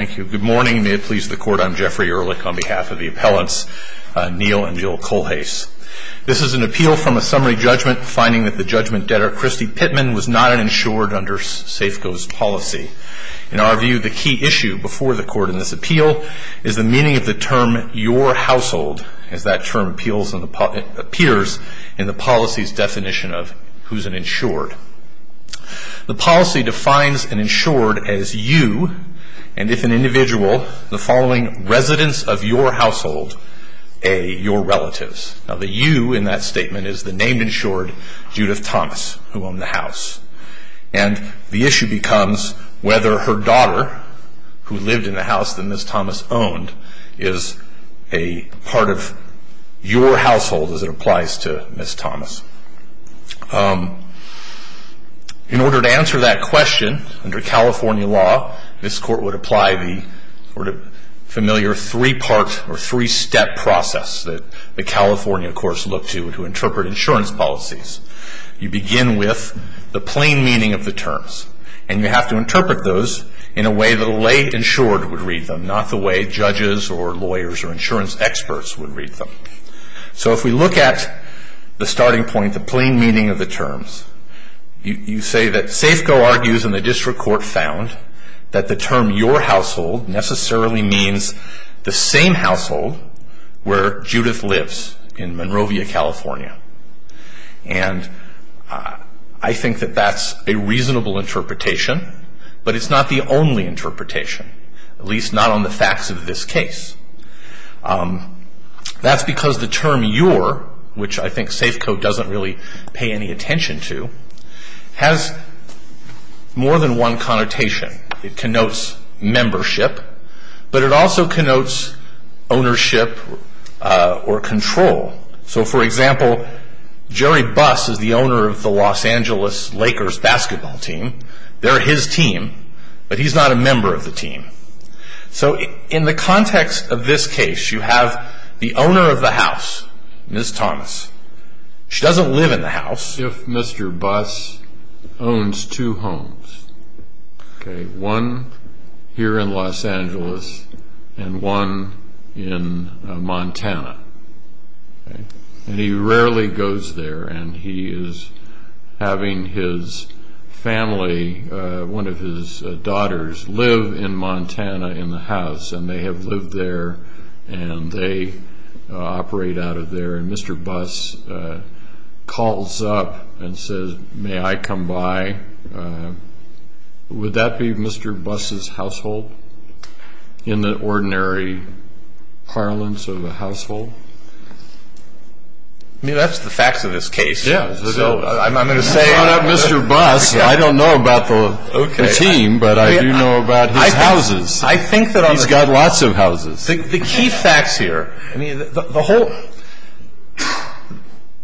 Good morning. May it please the Court, I'm Jeffrey Ehrlich on behalf of the appellants Neill and Jill Kohlhase. This is an appeal from a summary judgment finding that the judgment debtor, Christy Pittman, was not an insured under Safeco's policy. In our view, the key issue before the Court in this appeal is the meaning of the term, your household, as that term appeals and appears in the policy's definition of who's an insured. The policy defines an individual, the following, residents of your household, a, your relatives. Now the you in that statement is the named insured, Judith Thomas, who owned the house. And the issue becomes whether her daughter, who lived in the house that Ms. Thomas owned, is a part of your household as it applies to Ms. Thomas. In order to answer that question, under California law, this Court would apply the sort of familiar three-part or three-step process that the California courts look to to interpret insurance policies. You begin with the plain meaning of the terms. And you have to interpret those in a way that a lay insured would read them, not the way judges or lawyers or insurance experts would read them. So if we look at the starting point, the plain meaning of the terms, you say that Safeco argues in the district court found that the term, your household, necessarily means the same household where Judith lives in Monrovia, California. And I think that that's a reasonable interpretation, but it's not the only interpretation, at least not on the facts of this case. That's because the term, your, which I think Safeco doesn't really pay any attention to, has more than one connotation. It connotes membership, but it also connotes ownership or control. So for example, Jerry Buss is the owner of the Los Angeles Lakers basketball team. They're his team, but he's not a member of the team. So in the context of this case, you have the owner of the house, Ms. Thomas. She doesn't live in the house. If Mr. Buss owns two homes, one here in Los Angeles and one in Montana, and he rarely goes there and he is having his family, one of his daughters, live in Montana in the house and they have lived there and they operate out of there and Mr. Buss calls up Ms. Thomas and says, may I come by? Would that be Mr. Buss' household in the ordinary parlance of a household? I mean, that's the facts of this case. Yeah. So I'm going to say... I don't know about Mr. Buss. I don't know about the team, but I do know about his houses. I think that on the... He's got lots of houses. The key facts here, I mean, the whole...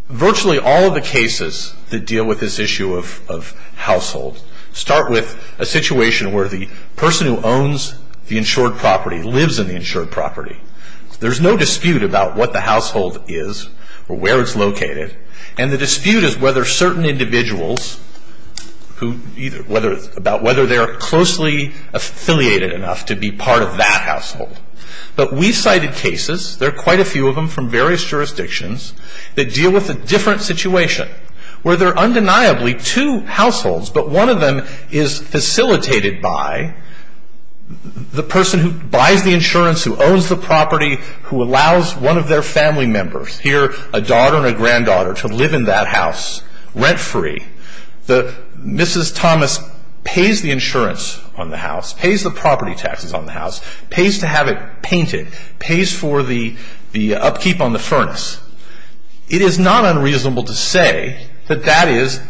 Virtually all of the cases that deal with this issue of household start with a situation where the person who owns the insured property lives in the insured property. There's no dispute about what the household is or where it's located and the dispute is whether certain individuals, about whether they're closely affiliated enough to be part of that household. But we cited cases, there are quite a few of them from various jurisdictions, that deal with a different situation where there are undeniably two households, but one of them is facilitated by the person who buys the insurance, who owns the property, who allows one of their family members, here a daughter and a granddaughter, to live in that house rent-free. Mrs. Thomas pays the insurance on the house, pays the property taxes on the house, pays to have it painted, pays for the upkeep on the furnace. It is not unreasonable to say that that is...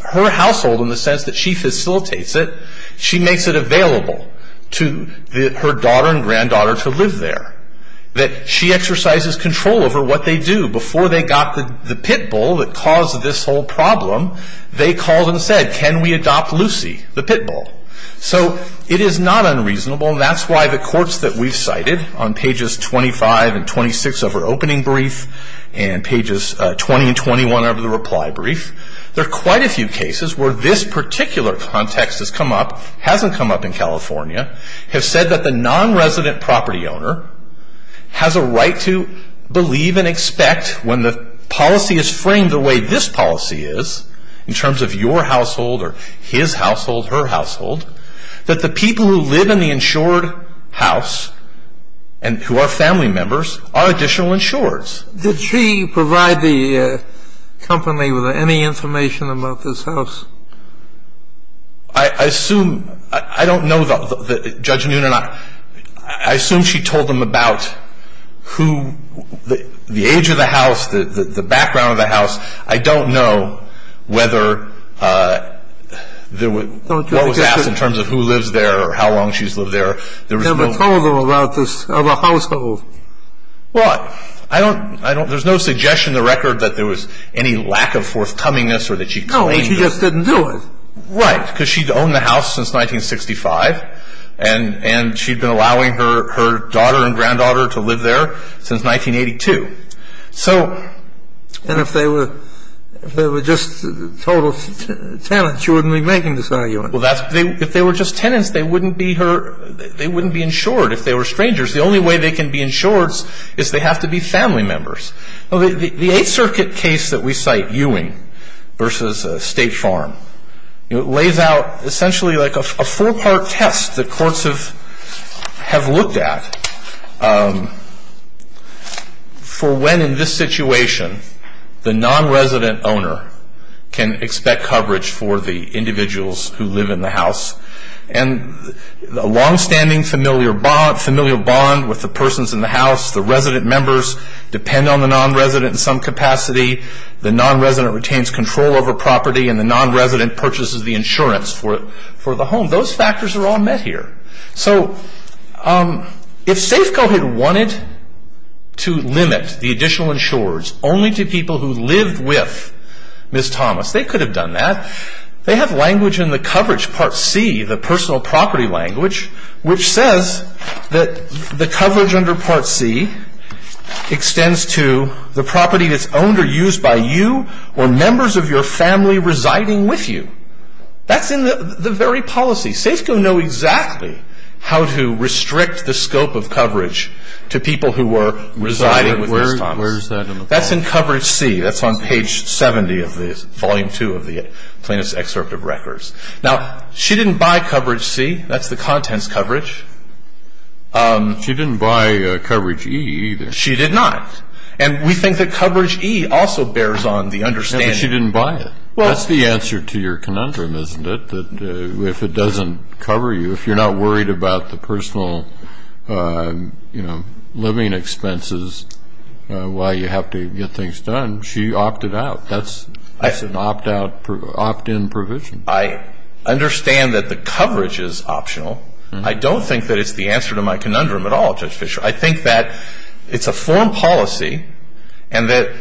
Her household, in the sense that she facilitates it, she makes it available to her daughter and granddaughter to live there. That she exercises control over what they do. Before they got the pit bull that caused this whole problem, they called and said, can we adopt Lucy, the pit bull? So it is not unreasonable and that's why the courts that we've cited on pages 25 and 26 of our opening brief and pages 20 and 21 of the reply brief, there are quite a few cases where this particular context has come up, hasn't come up in California, have said that the non-resident property owner has a right to believe and expect when the policy is framed the way this policy is, in terms of your household or his household, her household, that the people who live in the insured house and who are family members are additional insureds. Did she provide the company with any information about this house? I assume, I don't know, Judge Noonan, I assume she told them about who, the age of the house, the background of the house. I don't know whether there was, what was asked in terms of who lives there or how long she's lived there. Never told them about this other household. Well, I don't, there's no suggestion in the record that there was any lack of forthcomingness or that she claimed... She just didn't do it. Right, because she'd owned the house since 1965, and she'd been allowing her daughter and granddaughter to live there since 1982. So... And if they were just total tenants, you wouldn't be making this argument? Well, that's, if they were just tenants, they wouldn't be her, they wouldn't be insured if they were strangers. The only way they can be insured is they have to be family members. The Eighth Circuit case that we cite, Ewing v. State Farm, lays out essentially like a four-part test that courts have looked at for when, in this situation, the non-resident owner can expect coverage for the individuals who live in the house. And a long-standing familiar bond with the persons in the house, the resident members, depend on the non-resident in some capacity, the non-resident retains control over property, and the non-resident purchases the insurance for the home. Those factors are all met here. So, if Safeco had wanted to limit the additional insurers only to people who lived with Ms. Thomas, they could have done that. They have language in the coverage Part C, the personal property language, which says that the coverage under Part C extends to the property that's owned or used by you or members of your family residing with you. That's in the very policy. Safeco know exactly how to restrict the scope of coverage to people who were residing with Ms. Thomas. Where is that in the policy? That's in Coverage C. That's on page 70 of Volume 2 of the plaintiff's excerpt of records. Now, she didn't buy Coverage C. That's the contents coverage. She didn't buy Coverage E either. She did not. And we think that Coverage E also bears on the understanding. She didn't buy it. That's the answer to your conundrum, isn't it, that if it doesn't cover you, if you're not worried about the personal living expenses while you have to get things done, she opted out. That's an opt-in provision. I understand that the coverage is optional. I don't think that it's the answer to my conundrum at all, Judge Fischer. I think that it's a form policy and that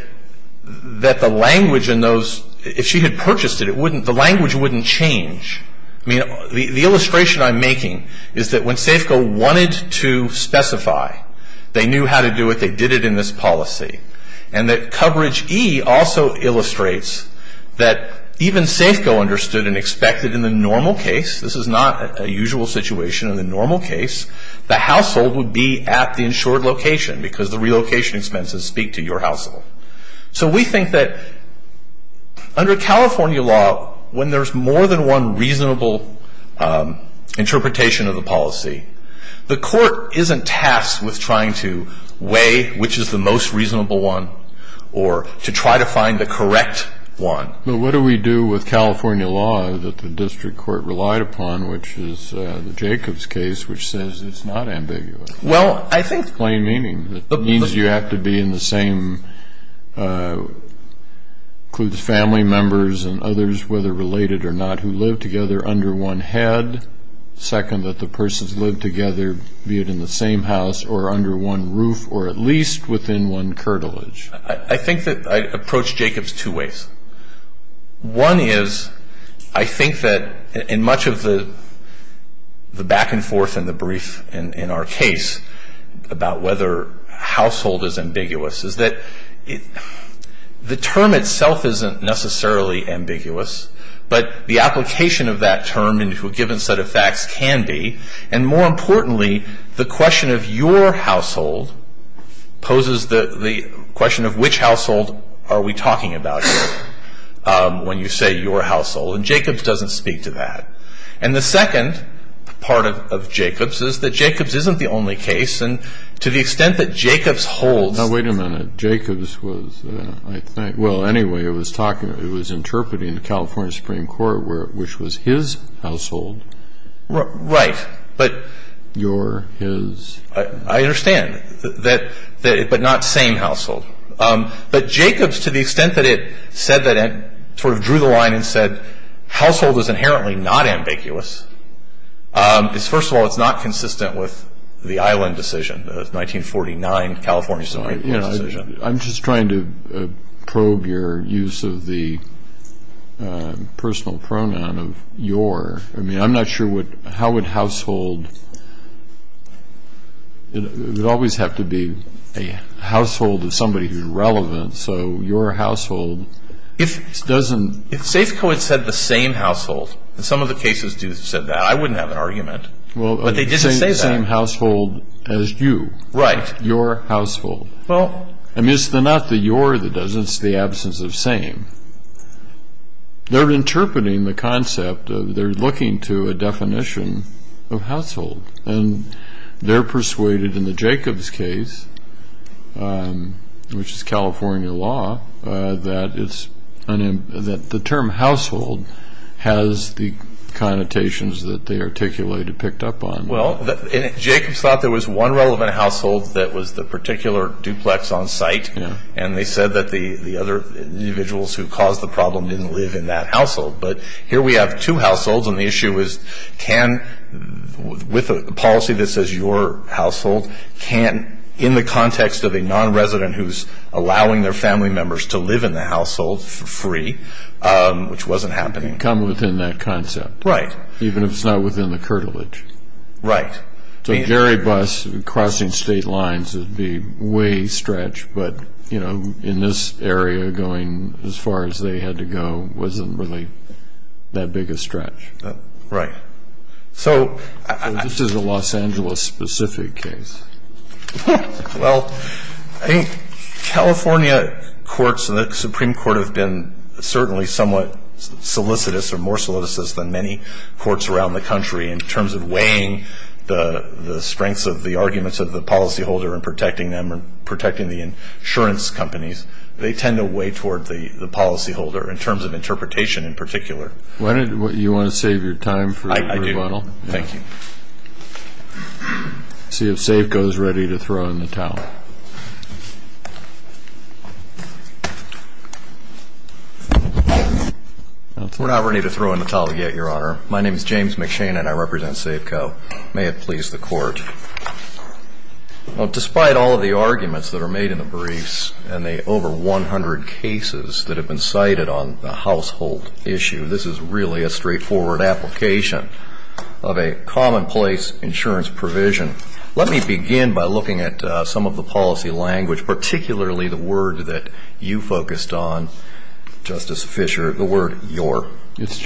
the language in those, if she had purchased it, it wouldn't, the language wouldn't change. I mean, the illustration I'm making is that when Safeco wanted to specify they knew how to do it, they did it in this policy. And that Coverage E also illustrates that even Safeco understood and expected in the normal case, this is not a usual situation in the normal case, the household would be at the insured location because the relocation expenses speak to your household. So we think that under California law, when there's more than one reasonable interpretation of the policy, the court isn't tasked with trying to weigh which is the most reasonable one or to try to find the correct one. But what do we do with California law that the district court relied upon, which is the Jacobs case, which says it's not ambiguous? Well, I think... Plain meaning. It means you have to be in the same, include the family members and others, whether related or not, who live together under one head. Second, that the persons live together, be it in the same house or under one roof or at least within one curtilage. I think that I approach Jacobs two ways. One is I think that in much of the back and forth and the brief in our case about whether household is ambiguous is that the term itself isn't necessarily ambiguous, but the application of that term into a given set of facts can be. And more importantly, the question of your household poses the question of which household are we talking about here when you say your household. And Jacobs doesn't speak to that. And the second part of Jacobs is that Jacobs isn't the only case. And to the extent that Jacobs holds... Now, wait a minute. Jacobs was, I think... Well, anyway, it was interpreting the California Supreme Court, which was his household. Right, but... Your, his... I understand, but not same household. But Jacobs, to the extent that it sort of drew the line and said household is inherently not ambiguous, is first of all it's not consistent with the Island decision, the 1949 California Supreme Court decision. I'm just trying to probe your use of the personal pronoun of your. I mean, I'm not sure how would household... It would always have to be a household of somebody who's relevant, so your household doesn't... If Safeco had said the same household, and some of the cases do say that, I wouldn't have an argument. But they didn't say that. Well, the same household as you. Right. Your household. Well... I mean, it's not the your that does it, it's the absence of same. They're interpreting the concept, they're looking to a definition of household. And they're persuaded in the Jacobs case, which is California law, that the term household has the connotations that they articulated, picked up on. Well, Jacobs thought there was one relevant household that was the particular duplex on site. And they said that the other individuals who caused the problem didn't live in that household. But here we have two households, and the issue is can, with a policy that says your household, in the context of a non-resident who's allowing their family members to live in the household for free, which wasn't happening. It can come within that concept. Right. Even if it's not within the curtilage. Right. So a jerry bus crossing state lines would be way stretched, but in this area going as far as they had to go wasn't really that big a stretch. Right. This is a Los Angeles-specific case. Well, I think California courts and the Supreme Court have been certainly somewhat solicitous, or more solicitous than many courts around the country, in terms of weighing the strengths of the arguments of the policyholder and protecting them and protecting the insurance companies. They tend to weigh toward the policyholder, in terms of interpretation in particular. You want to save your time for rebuttal? I do. Thank you. Let's see if SAFCO is ready to throw in the towel. We're not ready to throw in the towel yet, Your Honor. My name is James McShane, and I represent SAFCO. May it please the Court. Despite all of the arguments that are made in the briefs, and the over 100 cases that have been cited on the household issue, this is really a straightforward application of a commonplace insurance provision. Let me begin by looking at some of the policy language, particularly the word that you focused on, Justice Fischer, the word your. It's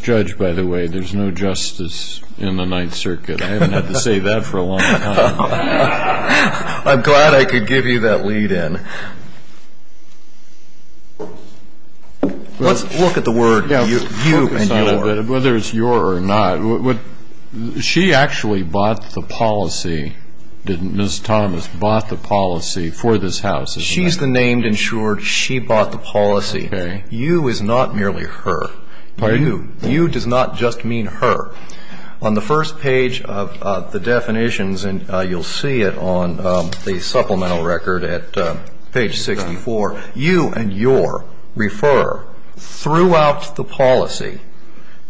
judge, by the way. There's no justice in the Ninth Circuit. I haven't had to say that for a long time. I'm glad I could give you that lead-in. Let's look at the word you and your. Whether it's your or not. She actually bought the policy, didn't Ms. Thomas, bought the policy for this house. She's the named insured. She bought the policy. You is not merely her. You does not just mean her. On the first page of the definitions, and you'll see it on the supplemental record at page 64, you and your refer throughout the policy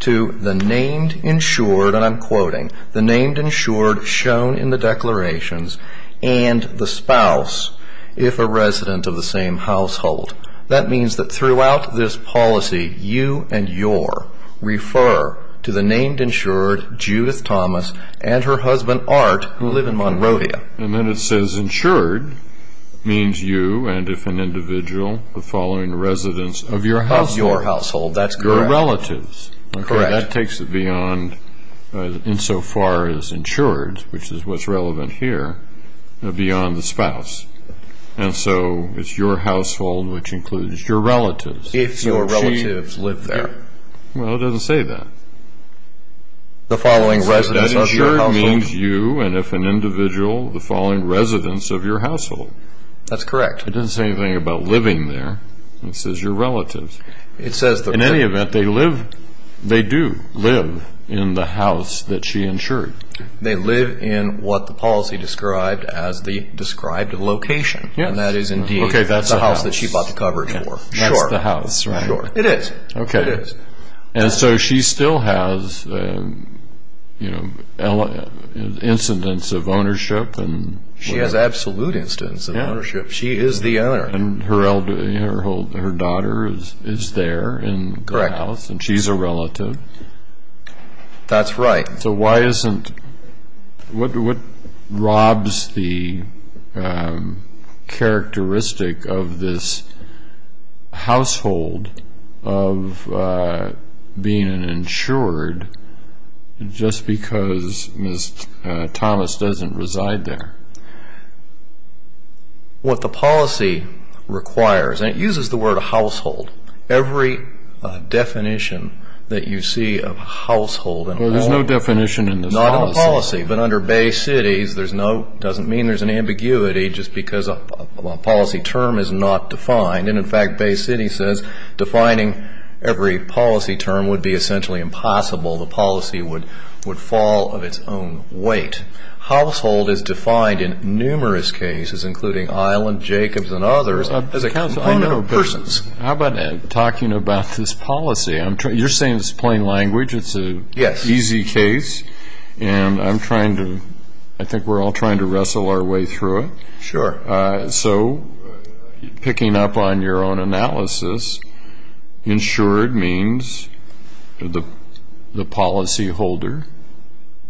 to the named insured, and I'm quoting, the named insured shown in the declarations, and the spouse if a resident of the same household. That means that throughout this policy, you and your refer to the named insured, Judith Thomas, and her husband, Art, who live in Monrovia. And then it says insured means you and, if an individual, the following residents of your household. Of your household. That's correct. Your relatives. Correct. That takes it beyond, insofar as insured, which is what's relevant here, beyond the spouse. And so it's your household, which includes your relatives. If your relatives live there. Well, it doesn't say that. The following residents of your household. It says that insured means you and, if an individual, the following residents of your household. That's correct. It doesn't say anything about living there. It says your relatives. In any event, they do live in the house that she insured. They live in what the policy described as the described location, and that is indeed the house that she bought the coverage for. That's the house, right? Sure. It is. Okay. It is. And so she still has, you know, incidents of ownership. She has absolute incidents of ownership. She is the owner. And her daughter is there in the house. Correct. And she's a relative. That's right. So why isn't, what robs the characteristic of this household of being an insured just because Ms. Thomas doesn't reside there? What the policy requires, and it uses the word household. Every definition that you see of household in law. Well, there's no definition in this policy. Not in the policy. But under Bay Cities, there's no, it doesn't mean there's an ambiguity just because a policy term is not defined. And, in fact, Bay City says defining every policy term would be essentially impossible. The policy would fall of its own weight. Household is defined in numerous cases, including Island, Jacobs, and others. How about talking about this policy? You're saying it's plain language. It's an easy case. And I'm trying to, I think we're all trying to wrestle our way through it. Sure. So picking up on your own analysis, insured means the policy holder.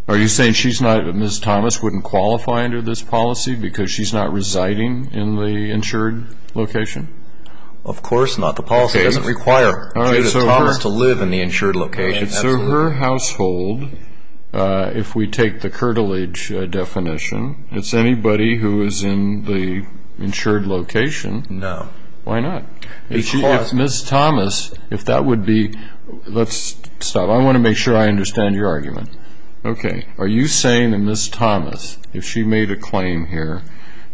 Are you saying she's not, Ms. Thomas wouldn't qualify under this policy because she's not residing in the insured location? Of course not. The policy doesn't require Judith Thomas to live in the insured location. So her household, if we take the curtilage definition, it's anybody who is in the insured location. No. Why not? If Ms. Thomas, if that would be, let's stop. I want to make sure I understand your argument. Okay. Are you saying that Ms. Thomas, if she made a claim here,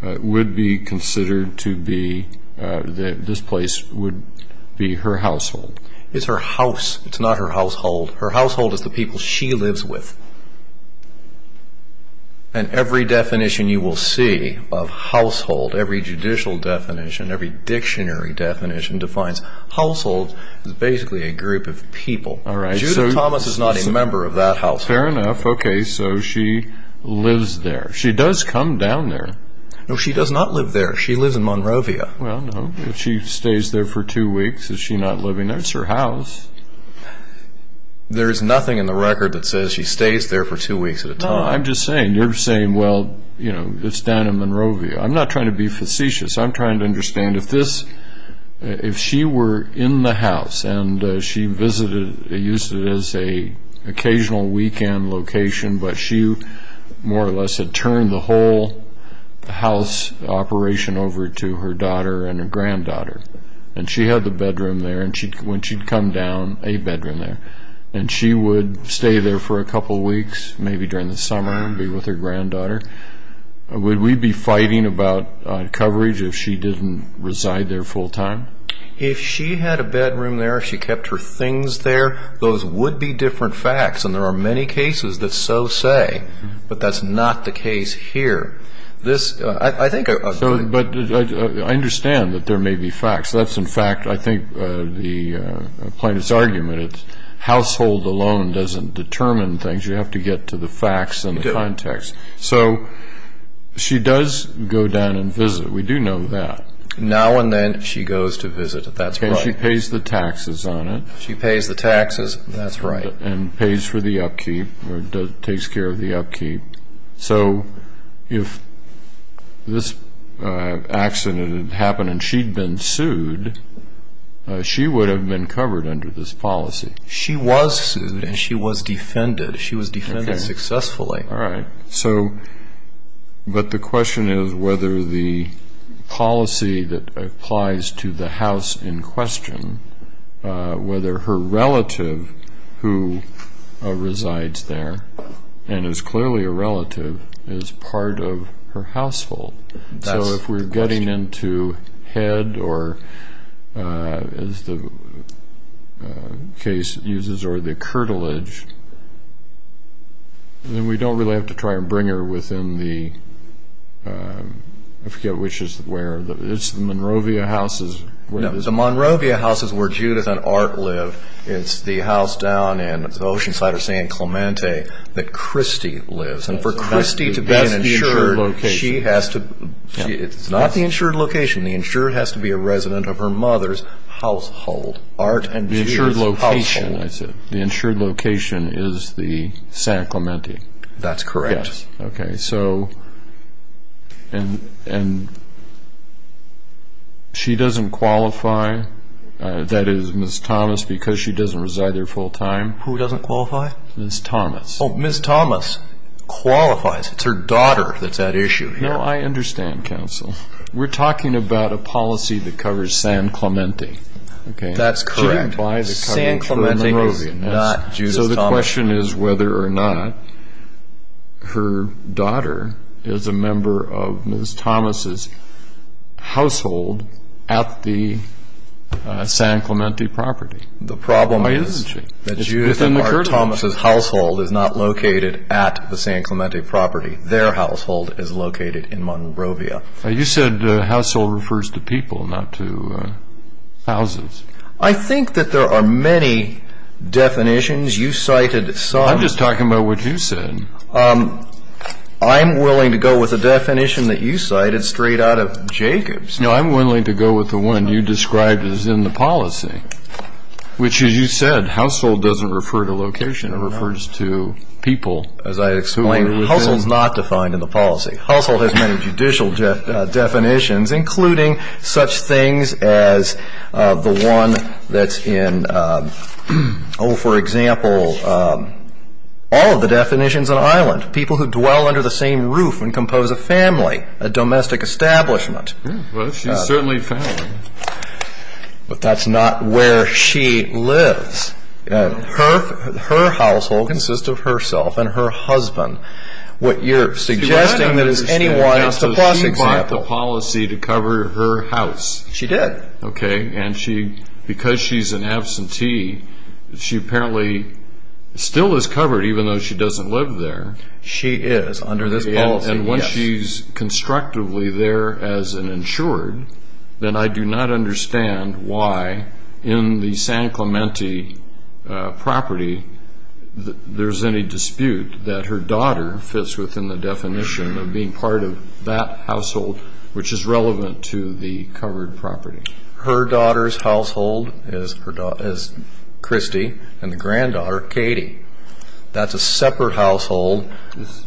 would be considered to be that this place would be her household? It's her house. It's not her household. Her household is the people she lives with. And every definition you will see of household, every judicial definition, every dictionary definition, defines household as basically a group of people. Judith Thomas is not a member of that household. Fair enough. Okay. So she lives there. She does come down there. No, she does not live there. She lives in Monrovia. Well, no. If she stays there for two weeks, is she not living there? It's her house. There is nothing in the record that says she stays there for two weeks at a time. No, I'm just saying, you're saying, well, you know, it's down in Monrovia. I'm not trying to be facetious. I'm trying to understand if this, if she were in the house and she visited, used it as an occasional weekend location, but she more or less had turned the whole house operation over to her daughter and her granddaughter. And she had the bedroom there, and when she'd come down, a bedroom there. And she would stay there for a couple weeks, maybe during the summer, and be with her granddaughter. Would we be fighting about coverage if she didn't reside there full time? If she had a bedroom there, she kept her things there, those would be different facts, and there are many cases that so say. But that's not the case here. But I understand that there may be facts. That's, in fact, I think the plaintiff's argument. It's household alone doesn't determine things. You have to get to the facts and the context. So she does go down and visit. We do know that. Now and then she goes to visit. And she pays the taxes on it. She pays the taxes, that's right. And pays for the upkeep or takes care of the upkeep. So if this accident had happened and she'd been sued, she would have been covered under this policy. She was sued, and she was defended. She was defended successfully. All right. But the question is whether the policy that applies to the house in question, whether her relative who resides there and is clearly a relative is part of her household. So if we're getting into head or, as the case uses, or the curtilage, then we don't really have to try and bring her within the, I forget which is where, it's the Monrovia houses. No, the Monrovia house is where Judith and Art live. It's the house down in Oceanside or San Clemente that Christy lives. And for Christy to be an insured, she has to, it's not the insured location. The insured has to be a resident of her mother's household. The insured location, I said. The insured location is the San Clemente. That's correct. Yes. Okay. So, and she doesn't qualify. That is, Ms. Thomas, because she doesn't reside there full time. Who doesn't qualify? Ms. Thomas. Oh, Ms. Thomas qualifies. It's her daughter that's at issue here. No, I understand, counsel. We're talking about a policy that covers San Clemente. Okay. That's correct. San Clemente is not Judith Thomas. So the question is whether or not her daughter is a member of Ms. Thomas' household at the San Clemente property. The problem is that Judith and Art Thomas' household is not located at the San Clemente property. Their household is located in Monrovia. You said household refers to people, not to houses. I think that there are many definitions. You cited some. I'm just talking about what you said. I'm willing to go with the definition that you cited straight out of Jacobs. No, I'm willing to go with the one you described as in the policy, which, as you said, household doesn't refer to location. It refers to people, as I explained. Household is not defined in the policy. Household has many judicial definitions, including such things as the one that's in, oh, for example, all of the definitions in Ireland, people who dwell under the same roof and compose a family, a domestic establishment. Well, she's certainly a family. But that's not where she lives. Her household consists of herself and her husband. You're suggesting that it's a plus example. So she got the policy to cover her house. She did. Okay. And because she's in absentee, she apparently still is covered, even though she doesn't live there. She is under this policy, yes. And when she's constructively there as an insured, then I do not understand why, in the San Clemente property, there's any dispute that her daughter fits within the definition of being part of that household, which is relevant to the covered property. Her daughter's household is Christy and the granddaughter, Katie. That's a separate household.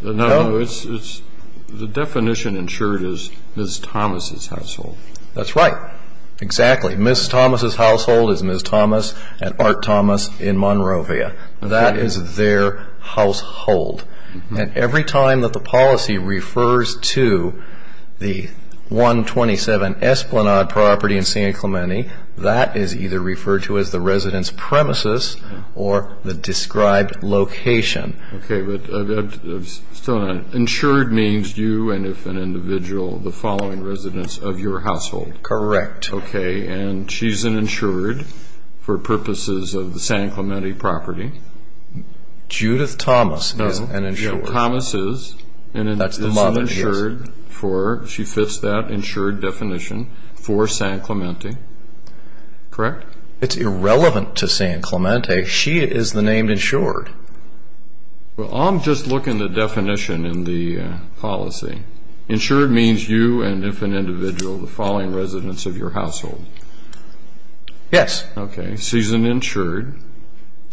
No, the definition insured is Ms. Thomas' household. That's right. Exactly. Ms. Thomas' household is Ms. Thomas at Art Thomas in Monrovia. That is their household. And every time that the policy refers to the 127 Esplanade property in San Clemente, that is either referred to as the resident's premises or the described location. Okay. But insured means you and, if an individual, the following residents of your household. Correct. Okay. And she's an insured for purposes of the San Clemente property. Judith Thomas is an insured. Judith Thomas is an insured. That's the mother, yes. She fits that insured definition for San Clemente. Correct? It's irrelevant to San Clemente. She is the name insured. Well, I'm just looking at the definition in the policy. Insured means you and, if an individual, the following residents of your household. Yes. Okay. She's an insured.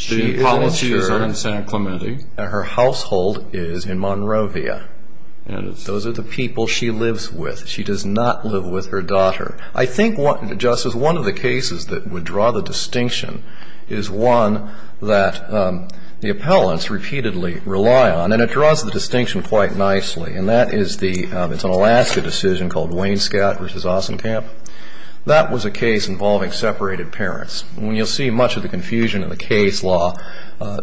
The policy is on San Clemente. Her household is in Monrovia. Those are the people she lives with. She does not live with her daughter. I think, Justice, one of the cases that would draw the distinction is one that the appellants repeatedly rely on, and it draws the distinction quite nicely. And that is the — it's an Alaska decision called Wainscott v. Ossentamp. That was a case involving separated parents. And you'll see much of the confusion in the case law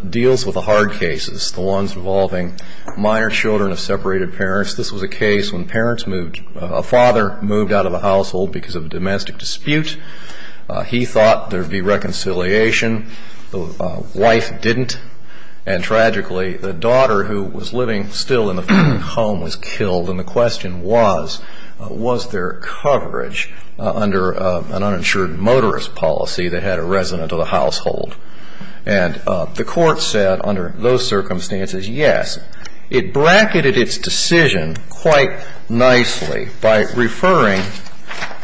deals with the hard cases, the ones involving minor children of separated parents. This was a case when parents moved — a father moved out of the household because of a domestic dispute. He thought there would be reconciliation. The wife didn't. And, tragically, the daughter, who was living still in the family home, was killed. And the question was, was there coverage under an uninsured motorist policy that had a resident of the household? And the court said, under those circumstances, yes. It bracketed its decision quite nicely by referring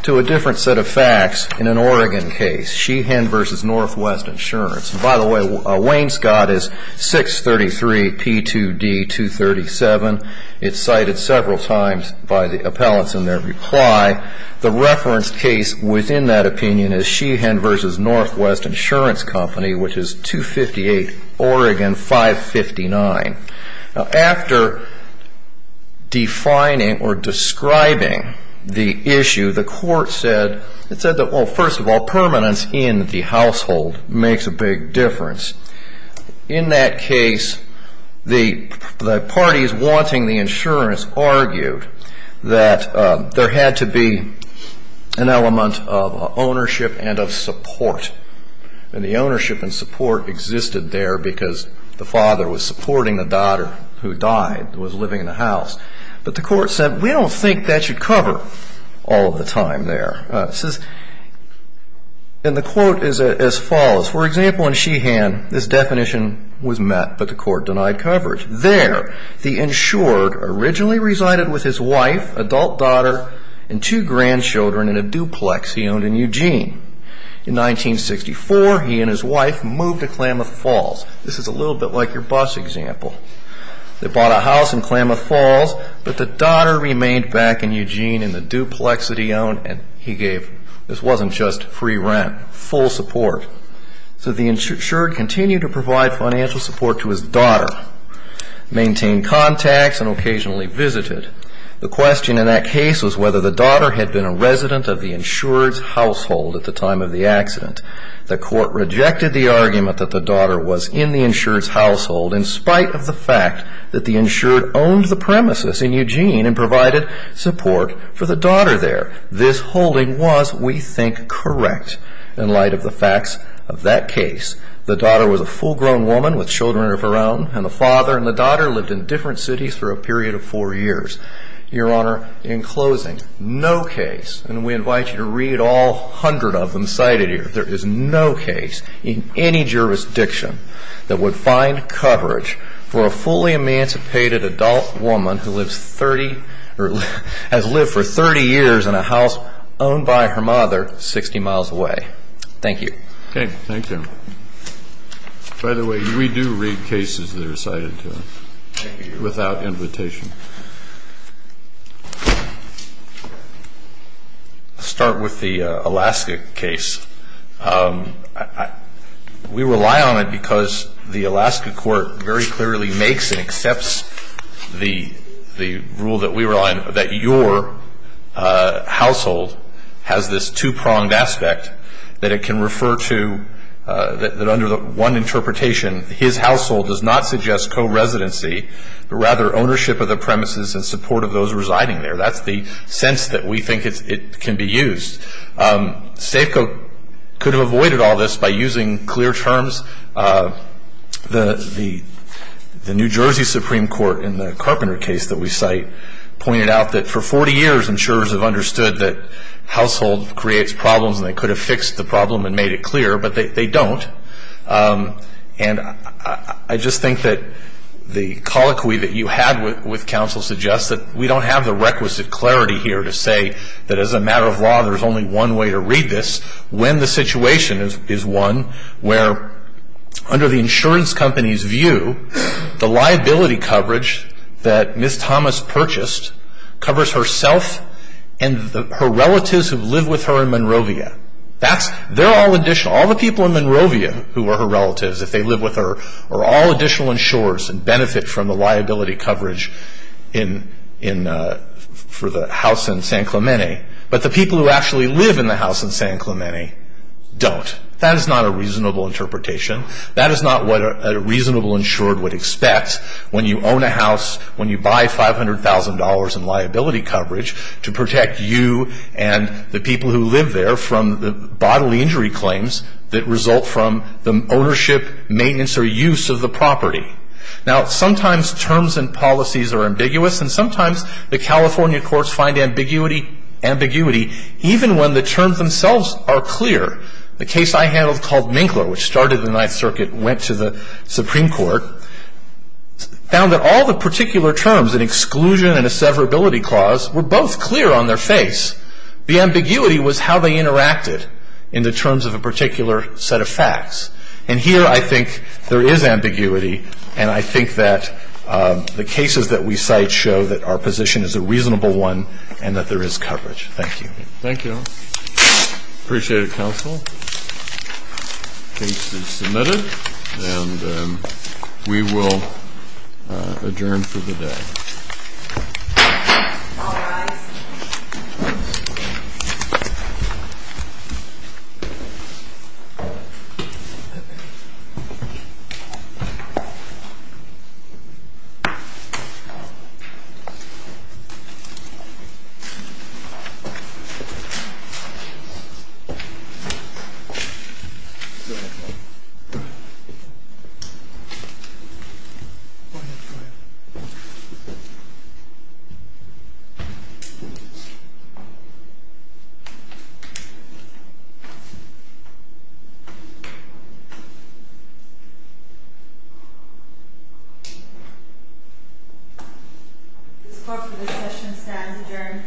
to a different set of facts in an Oregon case, Sheehan v. Northwest Insurance. And, by the way, Wainscott is 633P2D237. It's cited several times by the appellants in their reply. The referenced case within that opinion is Sheehan v. Northwest Insurance Company, which is 258 Oregon 559. Now, after defining or describing the issue, the court said — it said that, well, first of all, permanence in the household makes a big difference. In that case, the parties wanting the insurance argued that there had to be an element of ownership and of support. And the ownership and support existed there because the father was supporting the daughter who died, who was living in the house. But the court said, we don't think that should cover all of the time there. And the quote is as follows. For example, in Sheehan, this definition was met, but the court denied coverage. There, the insured originally resided with his wife, adult daughter, and two grandchildren in a duplex he owned in Eugene. In 1964, he and his wife moved to Klamath Falls. This is a little bit like your bus example. They bought a house in Klamath Falls, but the daughter remained back in Eugene in the duplex that he owned. And he gave — this wasn't just free rent, full support. So the insured continued to provide financial support to his daughter, maintained contacts, and occasionally visited. The question in that case was whether the daughter had been a resident of the insured's household at the time of the accident. The court rejected the argument that the daughter was in the insured's household in spite of the fact that the insured owned the premises in Eugene and provided support for the daughter there. This holding was, we think, correct in light of the facts of that case. The daughter was a full-grown woman with children of her own, and the father and the daughter lived in different cities for a period of four years. Your Honor, in closing, no case, and we invite you to read all hundred of them cited here, there is no case in any jurisdiction that would find coverage for a fully emancipated adult woman who lives 30 — or has lived for 30 years in a house owned by her mother 60 miles away. Thank you. Okay. Thank you. By the way, we do read cases that are cited here without invitation. Let's start with the Alaska case. We rely on it because the Alaska court very clearly makes and accepts the rule that we rely on, that your household has this two-pronged aspect that it can refer to — that under one interpretation, his household does not suggest co-residency, but rather ownership of the premises in support of those residing there. That's the sense that we think it can be used. Safeco could have avoided all this by using clear terms. The New Jersey Supreme Court, in the Carpenter case that we cite, pointed out that for 40 years insurers have understood that household creates problems and they could have fixed the problem and made it clear, but they don't. And I just think that the colloquy that you had with counsel suggests that we don't have the requisite clarity here to say that as a matter of law there's only one way to read this when the situation is one where, under the insurance company's view, the liability coverage that Ms. Thomas purchased covers herself and her relatives who live with her in Monrovia. They're all additional. All the people in Monrovia who are her relatives, if they live with her, are all additional insurers and benefit from the liability coverage for the house in San Clemente, but the people who actually live in the house in San Clemente don't. That is not a reasonable interpretation. That is not what a reasonable insurer would expect. When you own a house, when you buy $500,000 in liability coverage to protect you and the people who live there from the bodily injury claims that result from the ownership, maintenance, or use of the property. Now, sometimes terms and policies are ambiguous, and sometimes the California courts find ambiguity, even when the terms themselves are clear. The case I handled called Minkler, which started in the Ninth Circuit, went to the Supreme Court, found that all the particular terms, an exclusion and a severability clause, were both clear on their face. The ambiguity was how they interacted in the terms of a particular set of facts. And here I think there is ambiguity, and I think that the cases that we cite show that our position is a reasonable one and that there is coverage. Thank you. Thank you. Appreciate it, counsel. The case is submitted, and we will adjourn for the day. This court for the session stands adjourned. Thank you.